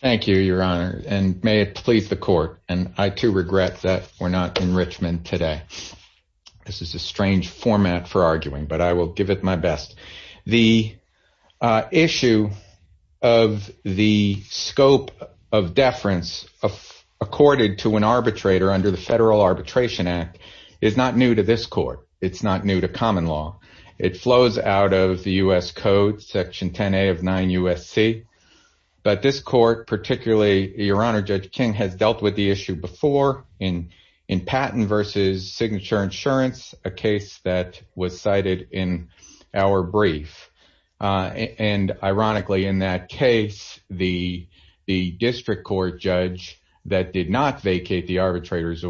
Thank you, your honor, and may it please the court, and I, too, regret that we're not in Richmond today. This is a strange format for arguing, but I will give it my best. The issue of the scope of deference accorded to an arbitrator under the Federal Arbitration Act is not new to this court. It's not new to common law. It flows out of the U.S. Code, Section 10A of 9 U.S.C. But this court, particularly your honor, Judge King, has dealt with the issue before in patent versus signature insurance, a case that was cited in our brief. And ironically, in that case, the district court judge that did not vacate the arbitrator in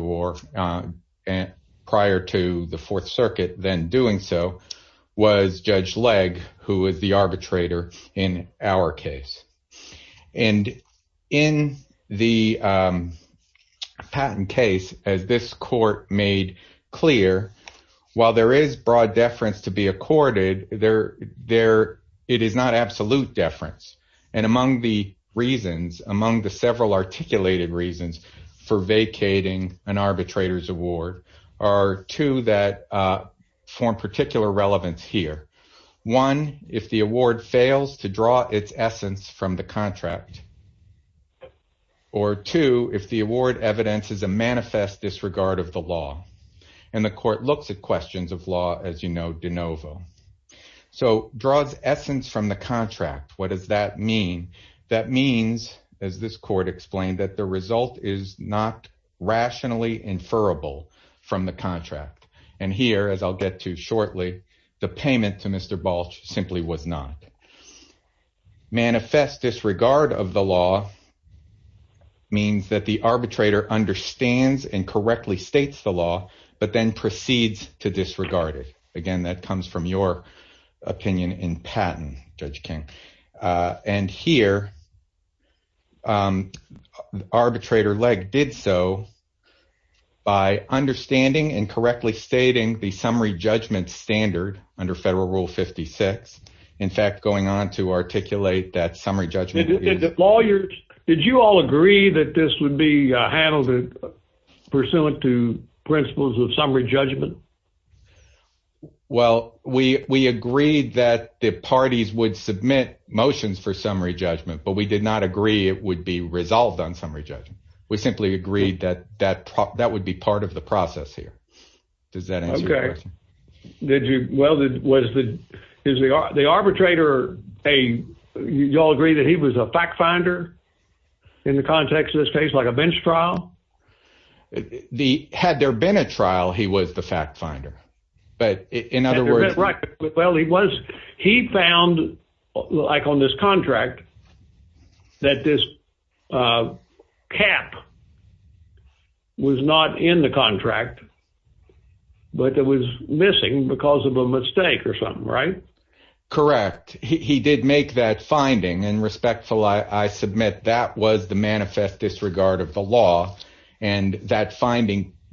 our case. And in the patent case, as this court made clear, while there is broad deference to be accorded, it is not absolute deference. And among the reasons, among the several articulated reasons for vacating an arbitrator's award are two that form particular relevance here. One, if the award fails to draw its essence from the contract. Or two, if the award evidence is a manifest disregard of the law. And the court looks at questions of law, as you know, de novo. So draws essence from the contract. What does that mean? That means, as this court explained, that the result is not rationally inferable from the contract. The payment to Mr. Balch simply was not. Manifest disregard of the law means that the arbitrator understands and correctly states the law, but then proceeds to disregard it. Again, that comes from your opinion in patent, Judge King. And here, um, arbitrator Legg did so by understanding and correctly stating the summary judgment standard under federal rule 56. In fact, going on to articulate that summary judgment. Did you all agree that this would be handled pursuant to principles of summary judgment? Well, we agreed that the parties would submit motions for summary judgment, but we did not agree it would be resolved on summary judgment. We simply agreed that that would be part of the process here. Does that answer your question? Okay. Did you, well, is the arbitrator a, you all agree that he was a fact finder in the context of this case, like a bench trial? Had there been a trial, he was the fact finder. But in other words... Well, he was, he found like on this contract that this cap was not in the contract, but it was missing because of a mistake or something, right? Correct. He did make that finding and respectful. I submit that was the manifest disregard of the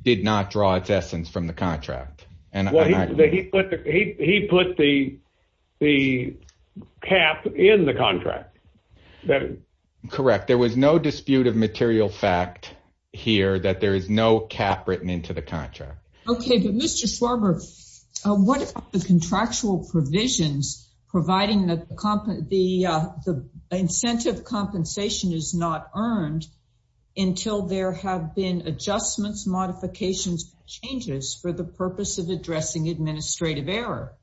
did not draw its essence from the contract. He put the cap in the contract. Correct. There was no dispute of material fact here that there is no cap written into the contract. Okay. But Mr. Schwarber, what about the contractual provisions providing the incentive compensation is not earned until there have been adjustments, modifications, changes for the purpose of addressing administrative error.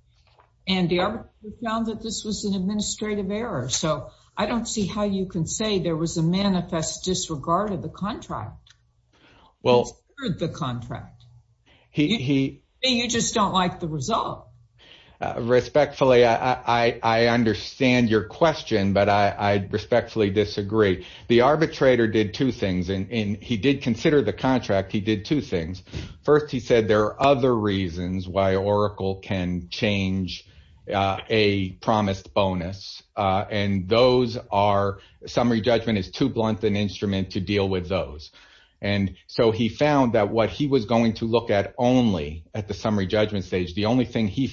And the arbitrator found that this was an administrative error. So I don't see how you can say there was a manifest disregard of the contract. Well... The contract. You just don't like the result. Respectfully, I understand your question, but I respectfully disagree. The arbitrator did two things and he did consider the contract. He did two things. First, he said there are other reasons why Oracle can change a promised bonus. And those are summary judgment is too blunt an instrument to deal with those. And so he found that what he was going to look at only at the summary judgment stage. The only thing he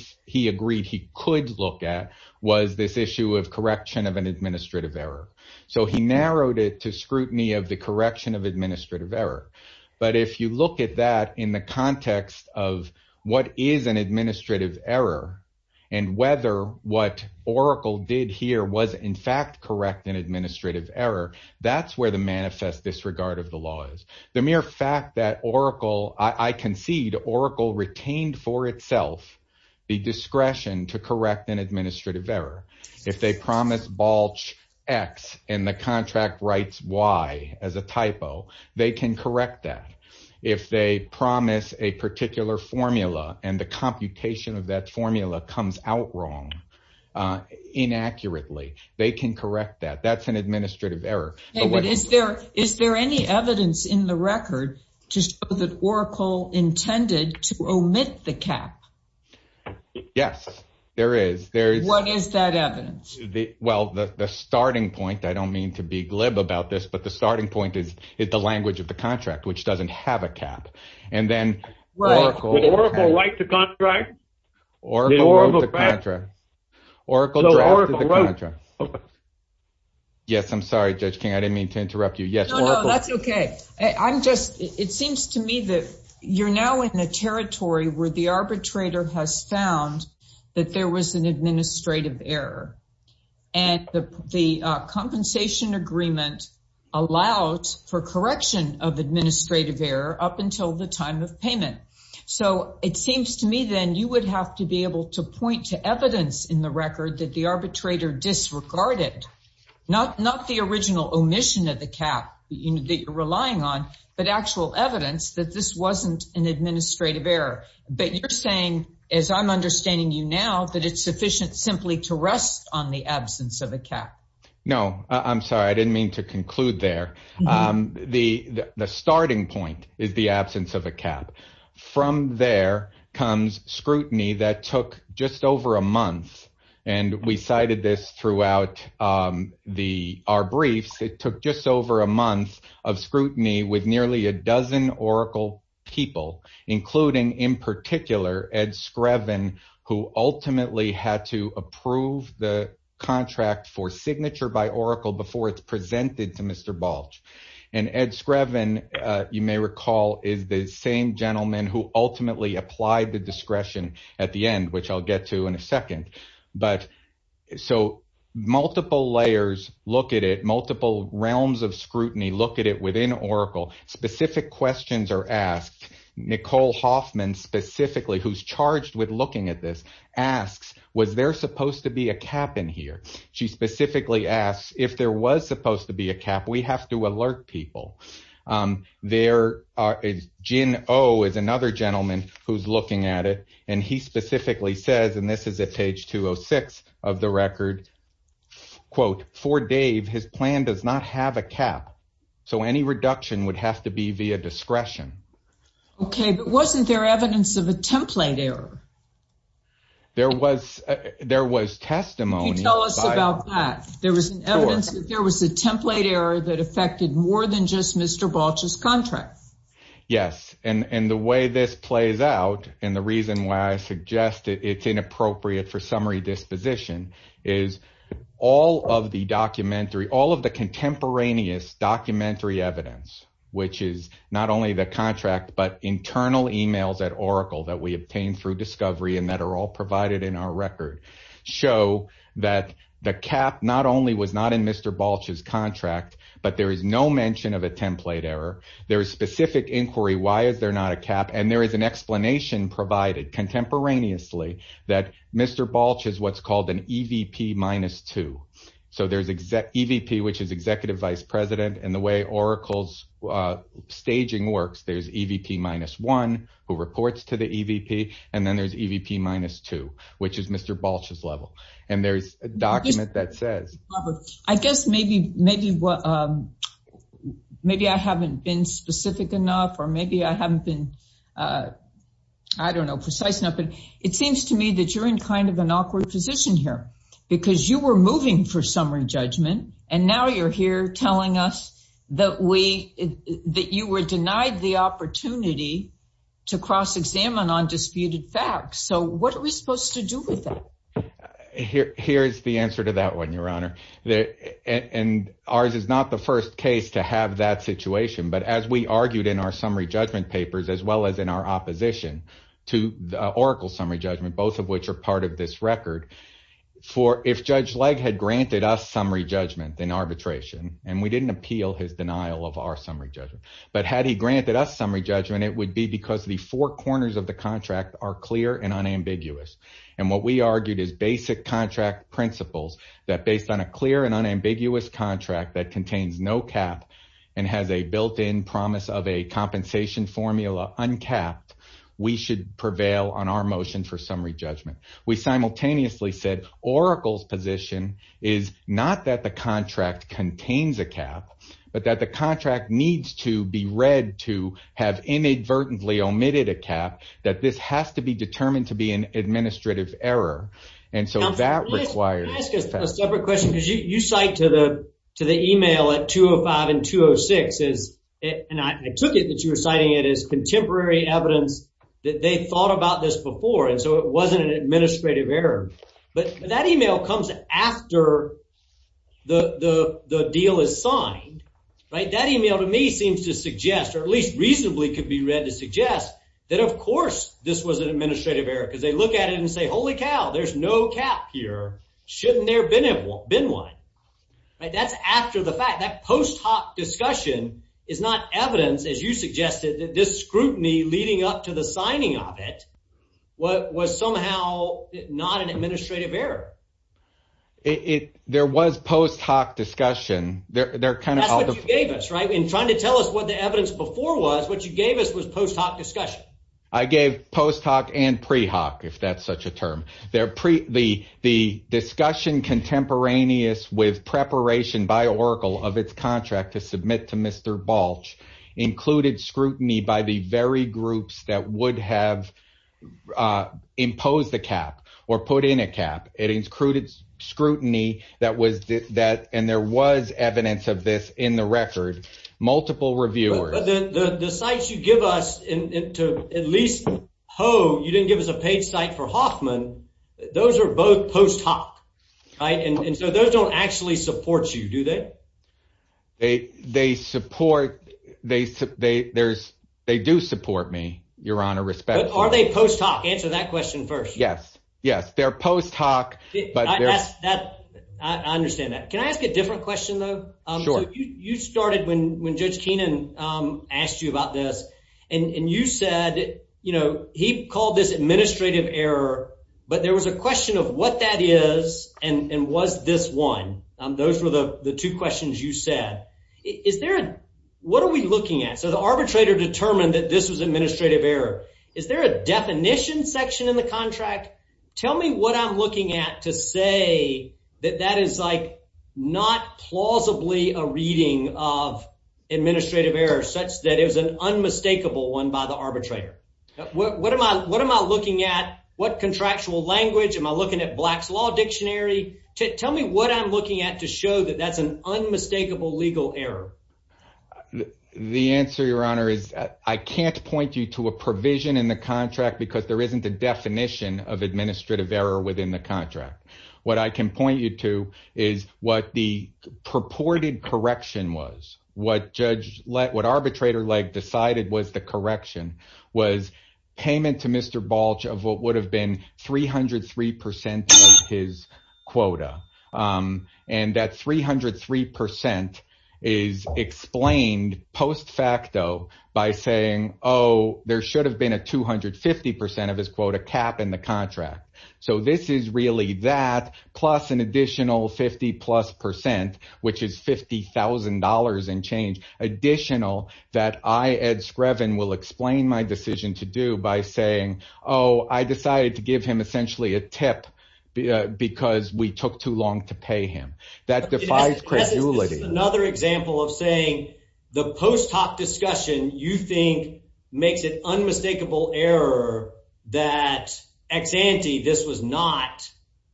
agreed he could look at was this issue of correction of an administrative error. So he narrowed it to scrutiny of the correction of administrative error. But if you look at that in the context of what is an administrative error and whether what Oracle did here was in fact correct in administrative error, that's where the manifest disregard of law is. The mere fact that Oracle, I concede, Oracle retained for itself the discretion to correct an administrative error. If they promise Balch X and the contract writes Y as a typo, they can correct that. If they promise a particular formula and the computation of that formula comes out wrong, inaccurately, they can correct that. That's an administrative error. David, is there any evidence in the record to show that Oracle intended to omit the cap? Yes, there is. What is that evidence? Well, the starting point, I don't mean to be glib about this, but the starting point is the language of the contract, which doesn't have a cap. And then Oracle wrote the contract. Yes, I'm sorry, Judge King, I didn't mean to interrupt you. No, no, that's okay. It seems to me that you're now in a territory where the arbitrator has found that there was an administrative error. And the compensation agreement allowed for correction of administrative error up until the time of payment. So it seems to me then you would have to be able to point to evidence in the record that the arbitrator disregarded, not the original omission of the cap that you're relying on, but actual evidence that this wasn't an administrative error. But you're saying, as I'm understanding you now, that it's sufficient simply to rest on the absence of a cap. No, I'm sorry, I didn't mean to conclude there. The starting point is the absence of a cap. From there comes scrutiny that took just over a month. And we cited this throughout our briefs. It took just over a month of scrutiny with nearly a dozen Oracle people, including in particular, Ed Screven, who ultimately had to approve the and Ed Screven, you may recall, is the same gentleman who ultimately applied the discretion at the end, which I'll get to in a second. So multiple layers look at it, multiple realms of scrutiny look at it within Oracle. Specific questions are asked. Nicole Hoffman specifically, who's charged with looking at this, asks, was there supposed to be a cap in here? She specifically asks, if there was supposed to be a cap, we have to alert people. Gin Oh is another gentleman who's looking at it, and he specifically says, and this is at page 206 of the record, quote, for Dave, his plan does not have a cap. So any reduction would have to be via discretion. Okay, but wasn't there evidence of a template error? There was, there was testimony. Tell us about that. There was evidence that there was a template error that affected more than just Mr. Balch's contract. Yes, and the way this plays out, and the reason why I suggest it's inappropriate for summary disposition is all of the documentary, all of the contemporaneous documentary evidence, which is not only the contract, but internal emails at Oracle that we obtained through discovery and that are all provided in our record show that the cap not only was not in Mr. Balch's contract, but there is no mention of a template error. There is specific inquiry. Why is there not a cap? And there is an explanation provided contemporaneously that Mr. Balch is what's called an EVP minus two. So there's EVP, which is executive vice president, and the way Oracle's staging works, there's EVP minus one, who reports to the EVP, and then there's EVP minus two, which is Mr. Balch's level. And there's a document that says... Robert, I guess maybe I haven't been specific enough, or maybe I haven't been, I don't know, precise enough, but it seems to me that you're in kind of an awkward position here because you were moving for summary judgment, and now you're here telling us that you were denied the opportunity to cross-examine on disputed facts. So what are we supposed to do with that? Here's the answer to that one, Your Honor. And ours is not the first case to have that situation, but as we argued in our summary judgment papers, as well as in our for if Judge Legg had granted us summary judgment in arbitration, and we didn't appeal his denial of our summary judgment, but had he granted us summary judgment, it would be because the four corners of the contract are clear and unambiguous. And what we argued is basic contract principles that based on a clear and unambiguous contract that contains no cap and has a built-in promise of a compensation formula uncapped, we should prevail on our motion for summary judgment. We simultaneously said, Oracle's position is not that the contract contains a cap, but that the contract needs to be read to have inadvertently omitted a cap, that this has to be determined to be an administrative error. And so that requires... Can I ask a separate question? Because you cite to the email at 205 and 206, and I took it that you were citing it as contemporary evidence that they thought about this before, and so it wasn't an administrative error. But that email comes after the deal is signed, right? That email to me seems to suggest, or at least reasonably could be read to suggest, that of course this was an administrative error, because they look at it and say, holy cow, there's no cap here. Shouldn't there have been one? Right? That's after the fact. That post hoc discussion is not evidence, as you suggested, this scrutiny leading up to the signing of it was somehow not an administrative error. There was post hoc discussion. That's what you gave us, right? In trying to tell us what the evidence before was, what you gave us was post hoc discussion. I gave post hoc and pre hoc, if that's such a term. The discussion contemporaneous with preparation by Oracle of its contract to submit to Mr. Balch included scrutiny by the very groups that would have imposed a cap or put in a cap. It included scrutiny that was, and there was evidence of this in the record, multiple reviewers. But the sites you give us to at least ho, you didn't give us a paid site for Hoffman. Those are both post hoc, right? And so those don't actually support you, do they? They support, they do support me, your honor, respectfully. Are they post hoc? Answer that question first. Yes. Yes. They're post hoc. I understand that. Can I ask a different question though? You started when Judge Keenan asked you about this and you said, he called this administrative error, but there was a question of what that is and was this one? Those were the two questions you said. Is there a, what are we looking at? So the arbitrator determined that this was administrative error. Is there a definition section in the contract? Tell me what I'm looking at to say that that is like not plausibly a reading of administrative error such that it was an unmistakable one by the arbitrator. What am I, what am I looking at? What contractual language? Am I looking at black's law dictionary? Tell me what I'm looking at to show that that's an unmistakable legal error. The answer, your honor, is I can't point you to a provision in the contract because there isn't a definition of administrative error within the contract. What I can point you to is what the purported correction was, what judge let, what arbitrator leg decided was the correction was payment to Mr. Balch of what would have been 303% of his quota. And that 303% is explained post facto by saying, oh, there should have been a 250% of his quota cap in the contract. So this is really that plus an additional 50 plus percent, which is $50,000 and change additional that I, Ed Screven, will explain my decision to do by saying, oh, I decided to give him essentially a tip because we took too long to pay him. That defies credulity. This is another example of saying the post hoc discussion you think makes it unmistakable error that ex ante, this was not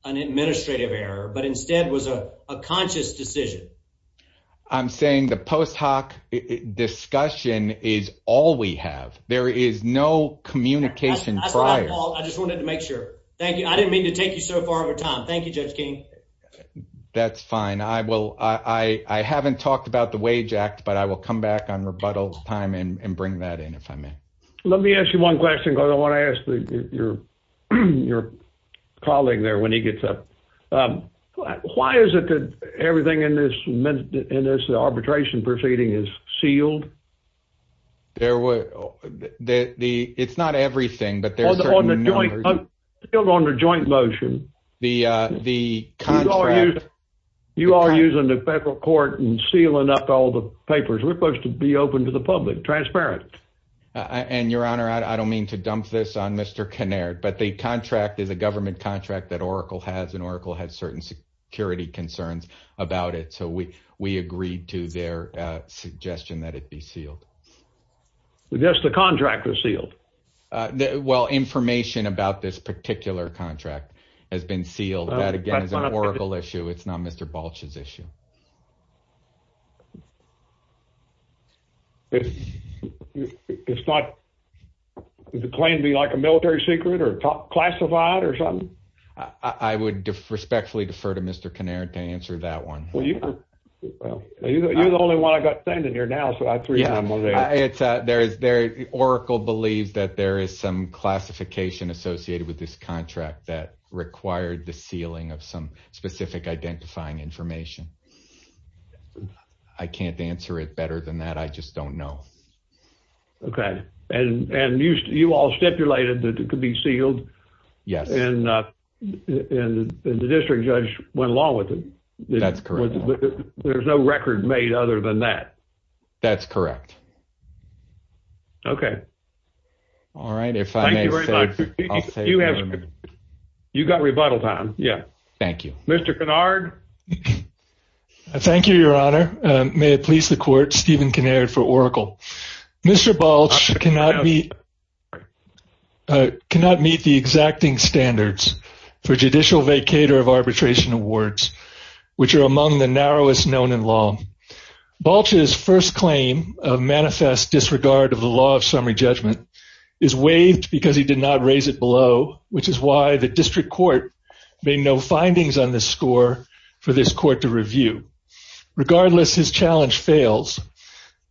an administrative error, but instead was a conscious decision. I'm saying the post hoc discussion is all we have. There is no communication prior. I just wanted to make sure. Thank you. I didn't mean to take you so far over time. Thank you, Judge King. That's fine. I will. I haven't talked about the wage act, but I will come back on rebuttal time and bring that in if I may. Let me ask you one question because I want to ask your colleague there when he gets up. Why is it that everything in this in this arbitration proceeding is sealed? There were the it's not everything, but there's on the joint on the joint motion. The the contract. You are using the federal court and sealing up all the papers. We're supposed to be open to the public, transparent. And your honor, I don't mean to dump this on Mr. Canard, but the contract is a government contract that Oracle has and Oracle had certain security concerns about it. So we we agreed to their suggestion that it be sealed. Yes, the contract was sealed. Well, information about this particular contract has been sealed. That, again, is an Oracle issue. It's not Mr. Balch's issue. It's not the claim to be like a military secret or classified or something. I would respectfully defer to Mr. Canard to answer that one. Well, you're the only one I got standing here now. So I three. Yeah, it's there is there. Oracle believes that there is some classification associated with this contract that required the sealing of some specific identifying information. I can't answer it better than that. I just don't know. Okay. And and you all stipulated that it could be sealed. Yes. And the district judge went along with it. That's correct. There's no record made other than that. That's correct. Okay. All right. If you have you got rebuttal time. Yeah. Thank you, Mr. Canard. I thank you, Your Honor. May it please the court, Stephen Canard for Oracle. Mr. Balch cannot be cannot meet the exacting standards for judicial vacator of arbitration awards, which are among the narrowest known in law. Balch's first claim of manifest disregard of the law of summary judgment is waived because he did not raise it below, which is why the district court made no findings on the score for this court to review. Regardless, his challenge fails.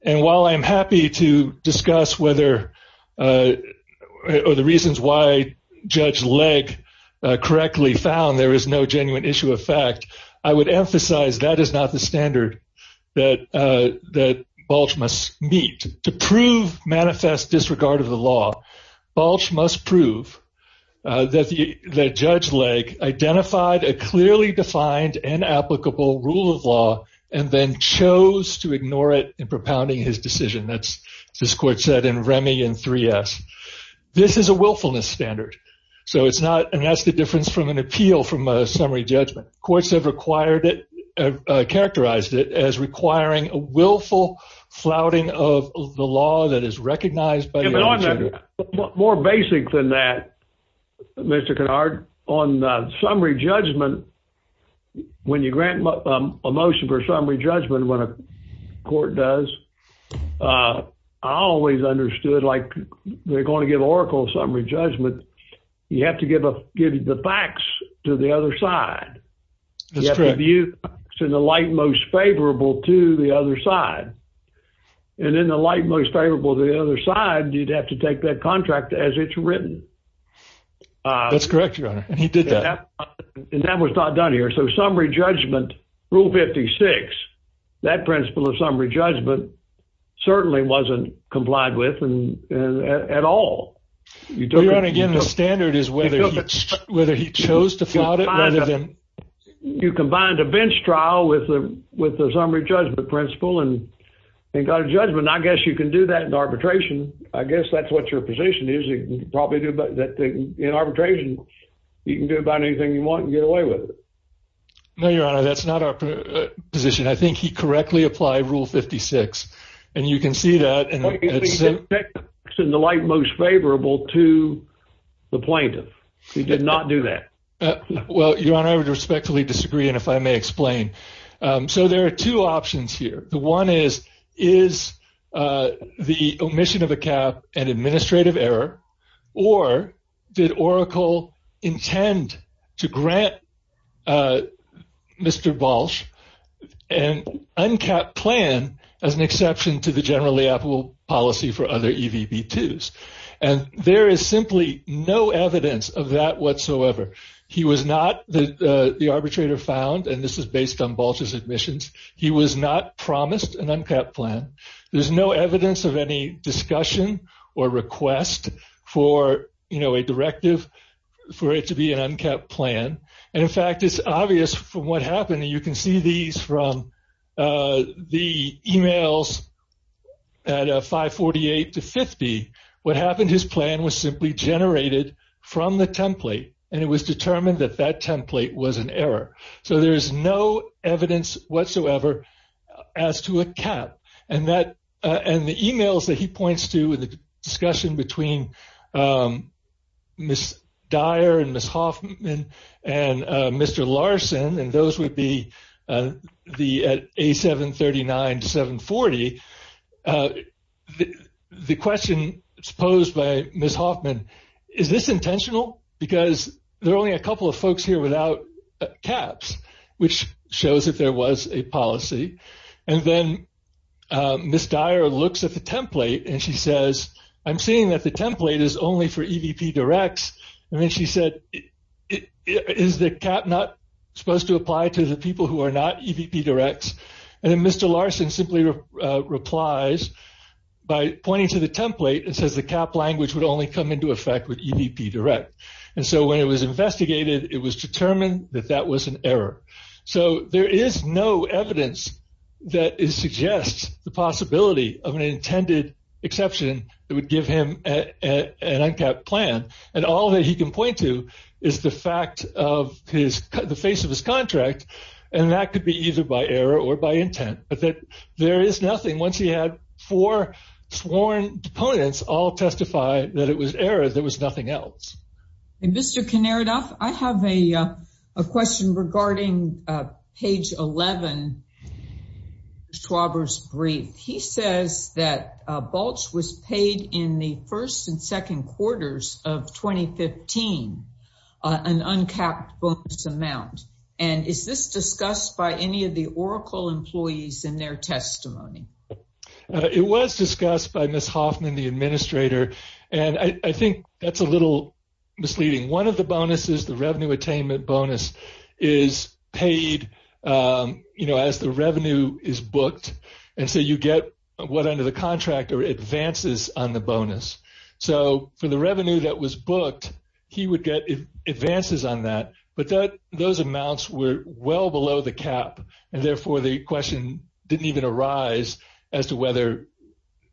And while I'm happy to discuss whether or the reasons why Judge Legg correctly found there is no genuine issue of fact, I would emphasize that is not the standard that that Balch must meet to prove manifest disregard of the law. Balch must prove that Judge Legg identified a clearly defined and applicable rule of law and then chose to ignore it in propounding his decision. That's this court said in Remy and 3S. This is a willfulness standard. So it's not. And that's the difference from an appeal from a summary judgment. Courts have required it, characterized it as requiring a willful flouting of the law that is recognized. More basic than that, Mr. Kennard, on summary judgment, when you grant a motion for summary judgment, when a court does, I always understood like they're going to give Oracle summary judgment. You have to give the facts to the other side. You have to give the facts in the light most favorable to the other side. And in the light most favorable to the other side, you'd have to take that contract as it's written. That's correct, Your Honor. And he did that. And that was not done here. So summary judgment, Rule 56, that principle of summary judgment certainly wasn't complied with at all. Your Honor, again, the standard is whether he chose to flout it. You combined a bench trial with a summary judgment principle and got a judgment. I guess you can do that in arbitration. I guess that's what your position is. In arbitration, you can do about anything you want and get away with it. No, Your Honor, that's not our position. I think he correctly applied Rule 56. And you can see that. In the light most favorable to the plaintiff. He did not do that. Well, Your Honor, I would respectfully disagree. And if I may explain, so there are two options here. The one is, is the omission of a cap an administrative error or did Oracle intend to grant Mr. Balch an uncapped plan as an exception to the generally applicable policy for other EVB-2s? And there is simply no evidence of that whatsoever. He was not the arbitrator found, and this is based on Balch's admissions. He was not promised an uncapped plan. There's no evidence of any discussion or request for a directive for it to be an uncapped plan. And in fact, it's obvious from what happened. You can see these from the emails at 548 to 50. What happened, his plan was simply generated from the template and it was determined that template was an error. So there's no evidence whatsoever as to a cap. And the emails that he points to in the discussion between Ms. Dyer and Ms. Hoffman and Mr. Larson, and those would be at A739 to 740. The question posed by Ms. Hoffman, is this intentional? Because there are only a few folks here without caps, which shows that there was a policy. And then Ms. Dyer looks at the template and she says, I'm seeing that the template is only for EVP directs. And then she said, is the cap not supposed to apply to the people who are not EVP directs? And then Mr. Larson simply replies by pointing to the template and says the cap language would only come into effect with EVP direct. And so when it was investigated, it was determined that that was an error. So there is no evidence that suggests the possibility of an intended exception that would give him an uncapped plan. And all that he can point to is the fact of the face of his contract. And that could be either by error or by intent, but that there is nothing. Once he had four sworn opponents all testify that it was error, there was nothing else. And Mr. Kniridoff, I have a question regarding page 11, Schwaber's brief. He says that Bulch was paid in the first and second quarters of 2015, an uncapped bonus amount. And is this discussed by Ms. Hoffman, the administrator? And I think that's a little misleading. One of the bonuses, the revenue attainment bonus is paid as the revenue is booked. And so you get what under the contract are advances on the bonus. So for the revenue that was booked, he would get advances on that, but those amounts were well below the cap. And therefore the question didn't even arise as whether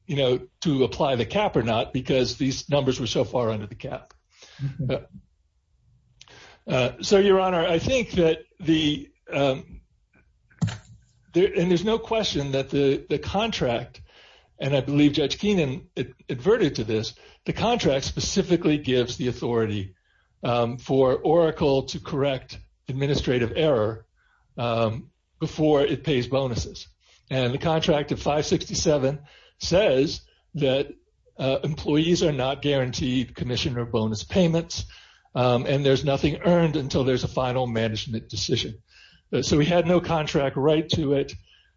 to apply the cap or not, because these numbers were so far under the cap. So Your Honor, I think that the, and there's no question that the contract, and I believe Judge Keenan adverted to this, the contract specifically gives the authority for Oracle to correct administrative error before it pays bonuses. And the contract of 567 says that employees are not guaranteed commission or bonus payments, and there's nothing earned until there's a final management decision. So we had no contract right to it.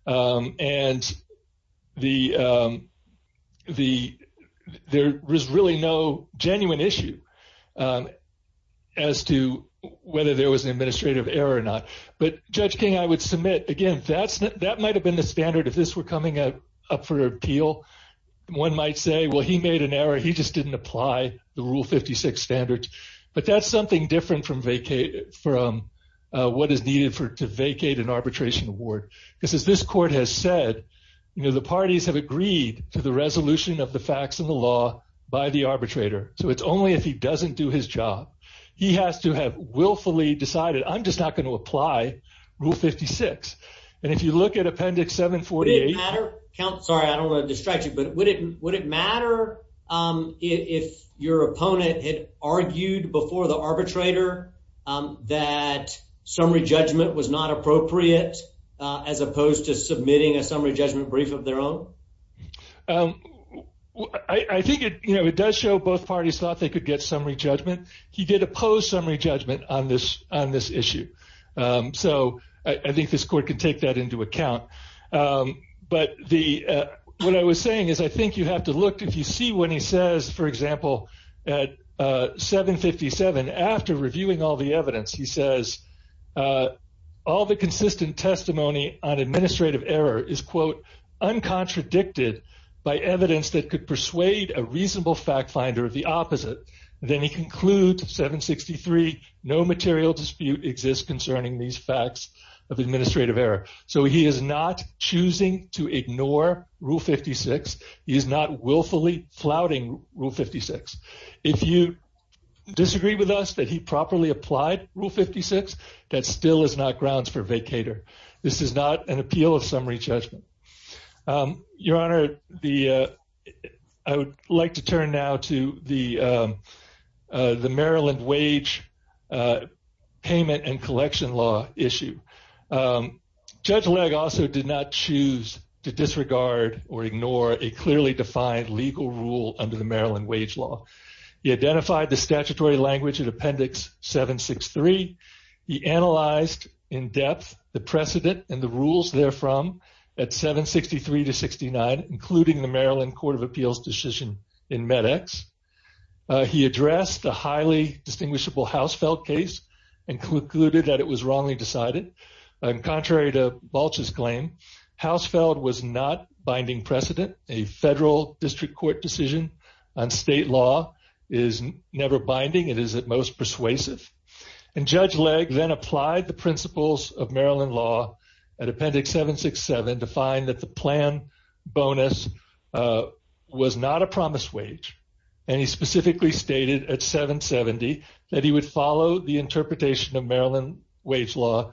And there was really no genuine issue as to whether there was an administrative error or not. But Judge King, I would submit, again, that might've been the standard if this were coming up for appeal. One might say, well, he made an error. He just didn't apply the Rule 56 standards. But that's something different from what is needed to vacate an arbitration award. Because as this court has said, the parties have agreed to the resolution of the facts and the law by the arbitrator. So it's only if he doesn't do his job. He has to have willfully decided, I'm just not going to apply Rule 56. And if you look at Appendix 748- Would it matter? Sorry, I don't want to distract you, but would it matter if your opponent had argued before the arbitrator that summary judgment was not appropriate as opposed to submitting a summary judgment brief of their own? I think it does show both parties thought they could get summary judgment. He did oppose summary judgment on this issue. So I think this court can take that into account. But what I was saying is, I think you have to look, if you see what he says, for example, at 757, after reviewing all the evidence, he says, all the consistent testimony on administrative error is, quote, uncontradicted by evidence that could persuade a reasonable fact finder of the opposite. Then he concludes 763, no material dispute exists concerning these facts of administrative error. So he is not choosing to ignore Rule 56. He is not willfully flouting Rule 56. If you disagree with us that he properly applied Rule 56, that still is not grounds for vacator. This is not an appeal of summary judgment. Your Honor, I would like to turn now to the Maryland wage payment and collection law issue. Judge Legg also did not choose to disregard or ignore a clearly defined legal rule under the Maryland wage law. He identified the statutory language in Appendix 763. He analyzed in depth the precedent and the rules therefrom at 763 to 69, including the Maryland Court of Appeals decision in MedEx. He addressed the highly distinguishable Hausfeld case and concluded that it was wrongly decided. Contrary to Balch's claim, Hausfeld was not binding precedent. A federal district court decision on state law is never binding. It is at most persuasive. And Judge Legg then applied the principles of Maryland law at Appendix 767 to find that the plan bonus was not a promised wage. And he specifically stated at 770 that he would follow the interpretation of Maryland wage law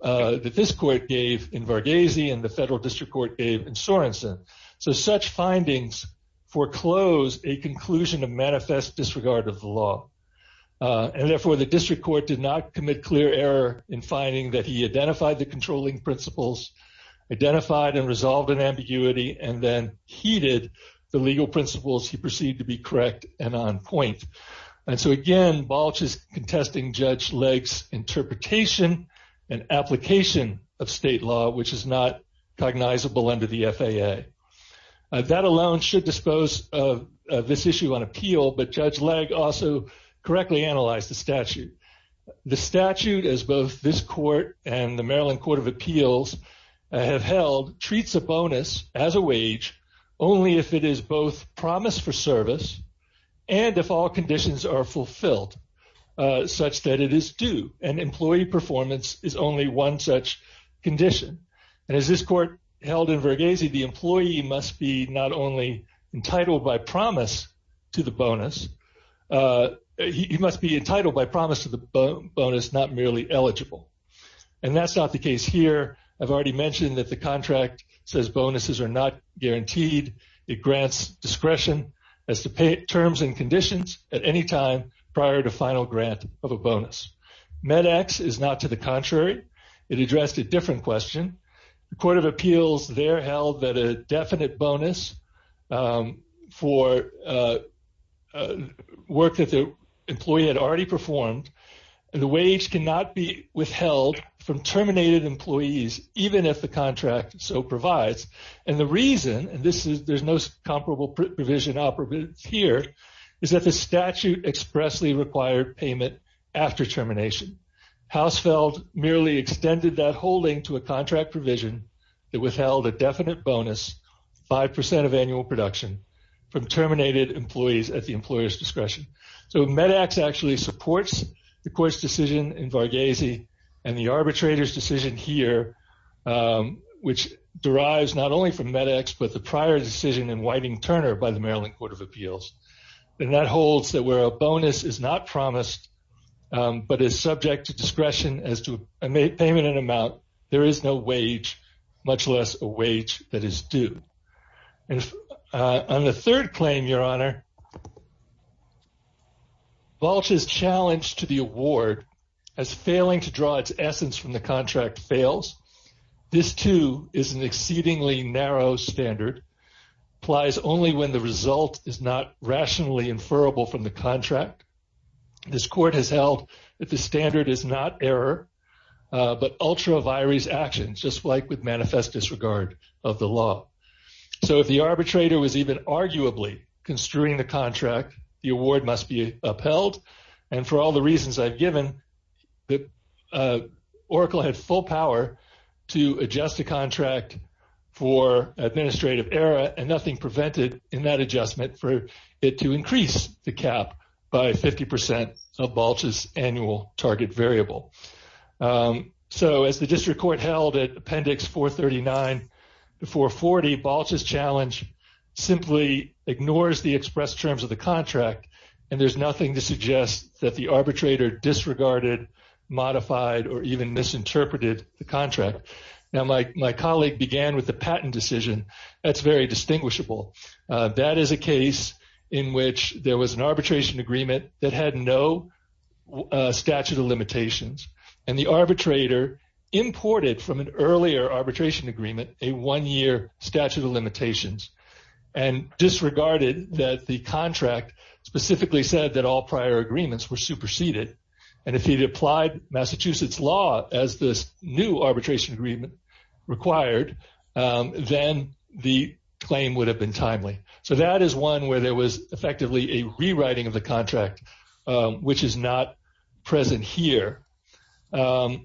that this court gave in Varghese and the federal district court gave in Sorensen. So such findings foreclose a conclusion of manifest disregard of the law. And therefore, the district court did not commit clear error in finding that he identified the controlling principles, identified and resolved an ambiguity, and then heeded the legal principles he perceived to be correct and on point. And so again, Balch is contesting Judge Legg's interpretation and application of state law, which is not cognizable under the FAA. That alone should dispose of this issue on appeal, but Judge Legg also correctly analyzed the statute. The statute, as both this court and the Maryland Court of Appeals have held, treats a bonus as a wage only if it is both promised for service and if all conditions are fulfilled such that it is due and employee performance is only one such condition. And as this court held in Varghese, the employee must be not only entitled by promise to the bonus, he must be entitled by promise to the bonus, not merely eligible. And that's not the case here. I've already mentioned that the contract says bonuses are not guaranteed. It grants discretion as to pay terms and conditions at any time prior to final grant of a bonus. MedEx is not to the contrary. It addressed a different question. The Court of Appeals there held that a definite bonus for work that the employee had already performed and the wage cannot be withheld from terminated employees, even if the contract so provides. And the reason, and there's no comparable provision here, is that the statute expressly required payment after termination. Hausfeld merely extended that holding to a contract provision that withheld a definite bonus, 5% of annual production, from terminated employees at the employer's discretion. So MedEx actually supports the court's decision in Varghese and the arbitrator's decision here, which derives not only from MedEx, but the prior decision in Whiting-Turner by the Maryland Court of Appeals. And that holds that where a bonus is not promised, but is subject to discretion as to payment in amount, there is no wage, much less a wage that is due. And on the third claim, Your Honor, Volch is challenged to the award as failing to draw its essence from the contract fails. This too is an exceedingly narrow standard, applies only when the result is not rationally inferrable from the contract. This court has held that the standard is not error, but ultra vires action, just like with manifest disregard of the law. So if the arbitrator was even arguably construing the contract, the award must be upheld. And for all the reasons I've given, the Oracle had full power to adjust the contract for administrative error and nothing prevented in that adjustment for it to increase the cap by 50% of Volch's annual target variable. So as the district court held at Appendix 439 to 440, Volch's challenge simply ignores the modified or even misinterpreted the contract. Now my colleague began with the patent decision. That's very distinguishable. That is a case in which there was an arbitration agreement that had no statute of limitations and the arbitrator imported from an earlier arbitration agreement, a one-year statute of limitations and disregarded that the contract specifically said that all he'd applied Massachusetts law as this new arbitration agreement required, then the claim would have been timely. So that is one where there was effectively a rewriting of the contract, which is not present here. And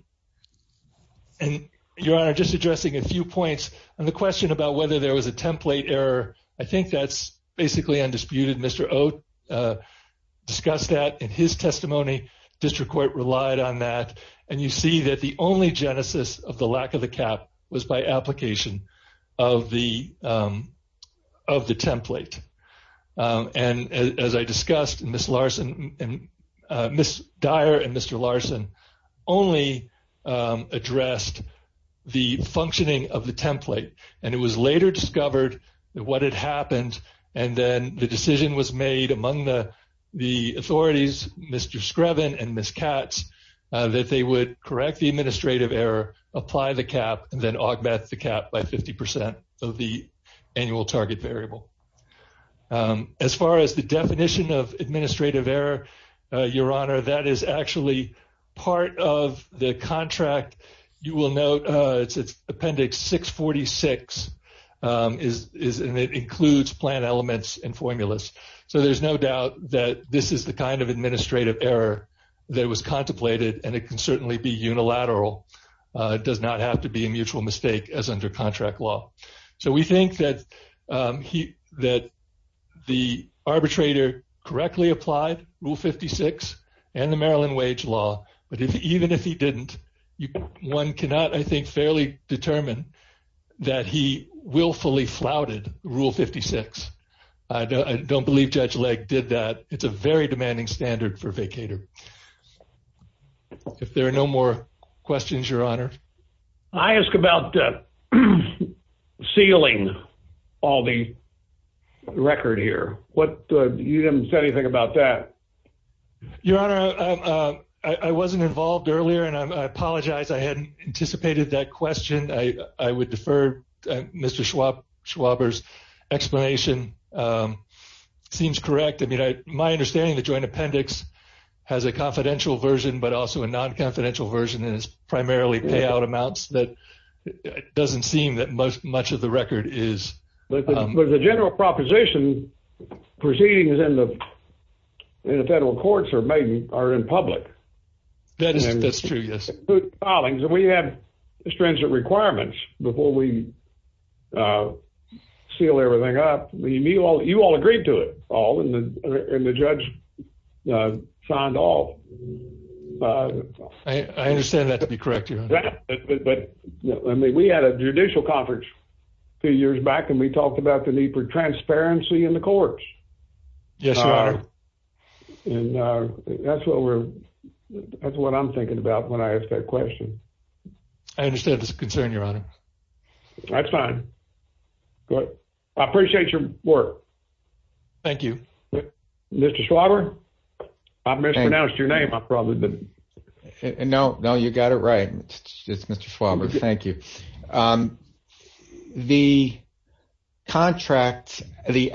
your honor, just addressing a few points on the question about whether there was a template error. I think that's basically undisputed. Mr. Oat discussed that in testimony. District court relied on that. And you see that the only genesis of the lack of the cap was by application of the template. And as I discussed, Ms. Dyer and Mr. Larson only addressed the functioning of the template. And it was later discovered that what had happened, and then the decision was made among the authorities, Mr. Screven and Ms. Katz, that they would correct the administrative error, apply the cap, and then augment the cap by 50% of the annual target variable. As far as the definition of administrative error, your honor, that is actually part of the contract. You will note it's appendix 646 is, and it includes plan elements and formulas. So there's no doubt that this is the kind of administrative error that was contemplated, and it can certainly be unilateral. It does not have to be a mutual mistake as under contract law. So we think that the arbitrator correctly applied Rule 56 and the Maryland wage law. But even if he didn't, one cannot, I think, fairly determine that he willfully flouted Rule 56. I don't believe Judge Legg did that. It's a very demanding standard for a vacator. If there are no more questions, your honor. I ask about sealing all the record here. You didn't say anything about that. Your honor, I wasn't involved earlier, and I apologize. I hadn't anticipated that question. I would defer Mr. Schwaber's explanation. Seems correct. I mean, my understanding of the joint appendix has a confidential version, but also a non-confidential version, and it's primarily payout amounts that doesn't seem that much of the record is. But the general proposition proceedings in the federal courts are in public. That's true, yes. And we have stringent requirements before we seal everything up. You all agreed to it all, and the judge signed all. I understand that to be correct, your honor. But I mean, we had a judicial conference two years back, and we talked about the need for transparency in the courts. Yes, your honor. And that's what I'm thinking about when I ask that question. I understand this concern, your honor. That's fine. I appreciate your work. Thank you. Mr. Schwaber? I mispronounced your name. I probably didn't. No, no, you got it right. It's Mr. Schwaber. Thank you. The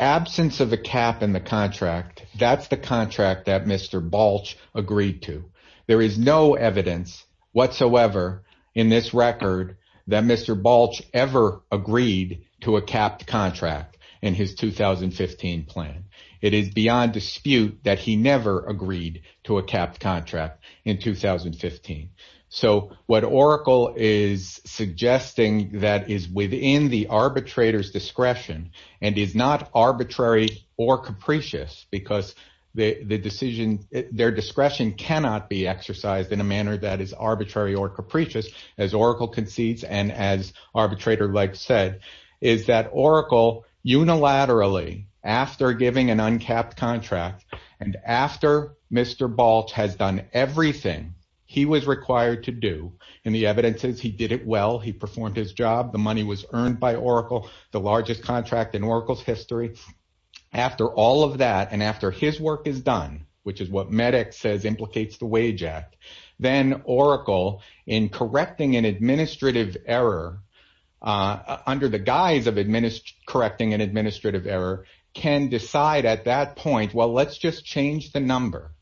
absence of a cap in the contract, that's the contract that Mr. Balch agreed to. There is no evidence whatsoever in this record that Mr. Balch ever agreed to a capped contract in his 2015 plan. It is beyond dispute that he never agreed to a capped contract in 2015. So what Oracle is suggesting that is within the arbitrator's discretion and is not arbitrary or capricious, because their discretion cannot be exercised in a manner that is arbitrary or unilaterally, after giving an uncapped contract, and after Mr. Balch has done everything he was required to do, and the evidence is he did it well, he performed his job, the money was earned by Oracle, the largest contract in Oracle's history. After all of that, and after his work is done, which is what Medix says implicates the Wage Act, then Oracle, in correcting an administrative error, can decide at that point, well, let's just change the number.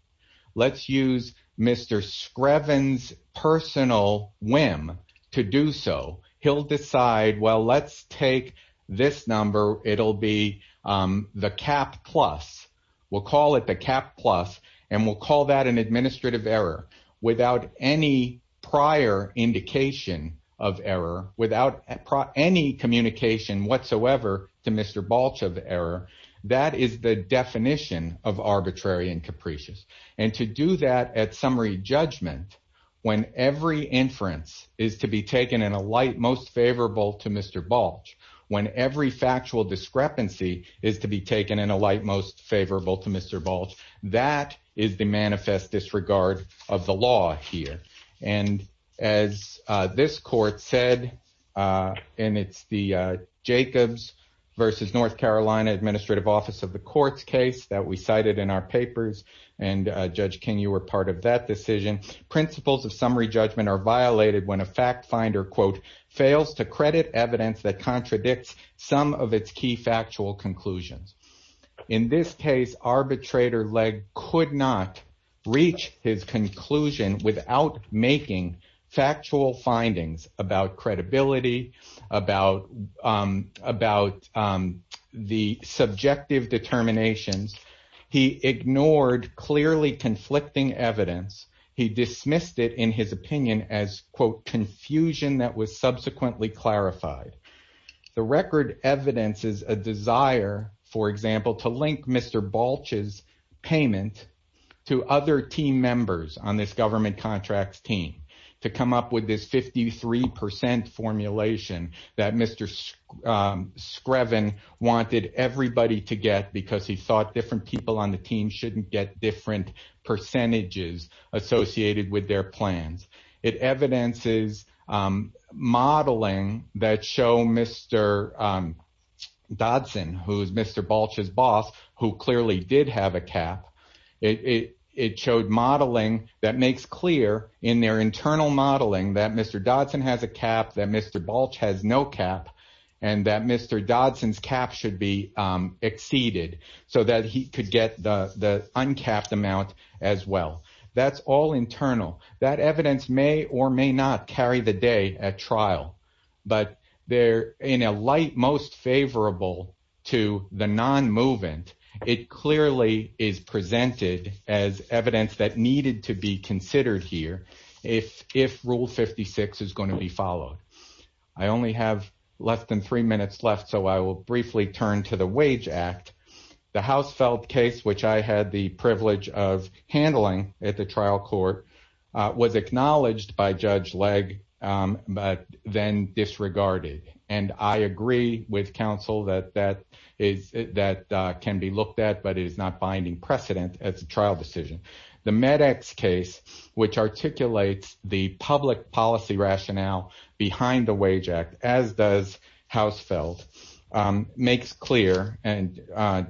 Let's use Mr. Screven's personal whim to do so. He'll decide, well, let's take this number, it'll be the cap plus. We'll call it the cap plus, and we'll call that an administrative error without any prior indication of error, without any communication whatsoever to Mr. Balch of error. That is the definition of arbitrary and capricious. And to do that at summary judgment, when every inference is to be taken in a light most favorable to Mr. Balch, when every factual discrepancy is to be taken in a light most favorable to Mr. Balch, that is the manifest disregard of the law here. And as this court said, and it's the Jacobs versus North Carolina Administrative Office of the Courts case that we cited in our papers, and Judge King, you were part of that decision, principles of summary judgment are violated when a fact finder, quote, fails to credit evidence that contradicts some of its key factual conclusions. In this case, arbitrator Legg could not reach his conclusion without making factual findings about credibility, about the subjective determinations. He ignored clearly conflicting evidence. He dismissed it in his opinion as, quote, confusion that was subsequently clarified. The record evidences a desire, for example, to link Mr. Balch's payment to other team members on this government contracts team to come up with this 53% formulation that Mr. Screven wanted everybody to get because he thought different people on the team shouldn't get different percentages associated with their plans. It evidences modeling that show Mr. Dodson, who is Mr. Balch's boss, who clearly did have a cap, it showed modeling that makes clear in their internal modeling that Mr. Dodson has a cap, that Mr. Balch has no cap, and that Mr. Dodson's cap should be exceeded so that he could get the uncapped amount as well. That's all internal. That evidence may or may not carry the day at trial, but in a light most favorable to the non-movement, it clearly is presented as evidence that needed to be considered here if Rule 56 is going to be followed. I only have less than three minutes left, so I will briefly turn to the Wage Act. The Hausfeld case, which I had the privilege of handling at the trial court, was acknowledged by Judge Legg, but then disregarded. I agree with counsel that that can be looked at, but it is not binding precedent at the trial decision. The MedEx case, which articulates the public policy rationale behind the Wage Act, as does Hausfeld, makes clear, and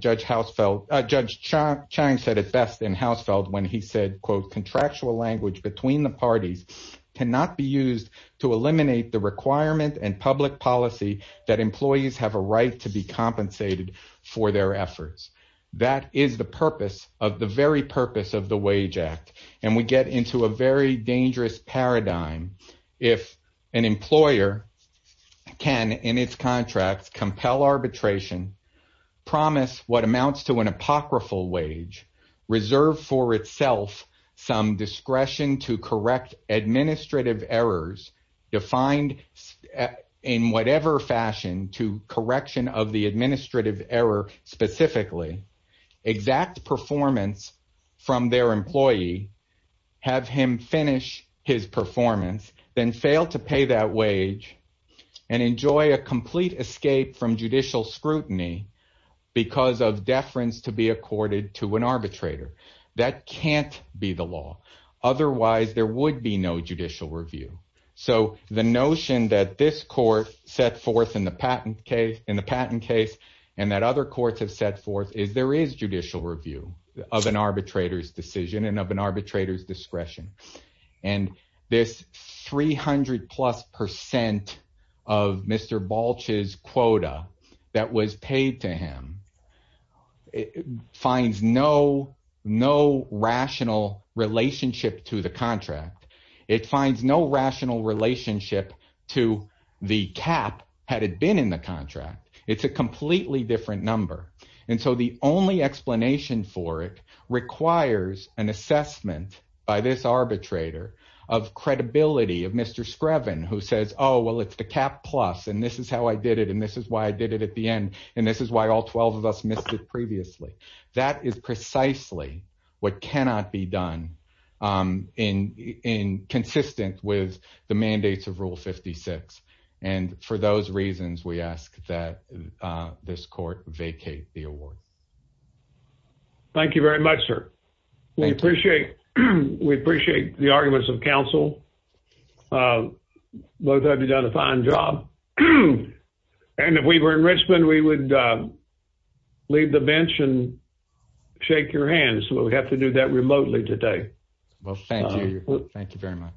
Judge Chaim said it best in Hausfeld when he said, quote, contractual language between the parties cannot be used to eliminate the requirement and public policy that employees have a right to be compensated for their efforts. That is the purpose of the very purpose of the Wage Act, and we get into a very dangerous paradigm if an employer can, in its contracts, compel arbitration, promise what amounts to an apocryphal wage, reserve for itself some discretion to correct administrative errors defined in whatever fashion to correction of the administrative error specifically, exact performance from their employee, have him finish his performance, then fail to pay that wage and enjoy a complete escape from judicial scrutiny because of deference to be accorded to an arbitrator. That can't be the law. Otherwise, there would be no judicial review. So the notion that this court set forth in the patent case and that other courts have set forth is there is judicial review of an arbitrator's decision and of an arbitrator's discretion. And this 300 plus percent of Mr. Balch's quota that was paid to him it finds no rational relationship to the contract. It finds no rational relationship to the cap had it been in the contract. It's a completely different number. And so the only explanation for it requires an assessment by this arbitrator of credibility of Mr. Screven who says, oh, well, it's the cap plus, and this is how I did it, and this is why I did it at the end, and this is why all 12 of us missed it previously. That is precisely what cannot be done in consistent with the mandates of Rule 56. And for those reasons, we ask that this court vacate the award. Thank you very much, sir. We appreciate the arguments of counsel. Both of you have done a fine job. And if we were in Richmond, we would leave the bench and shake your hands, but we have to do that remotely today. Well, thank you. Thank you very much.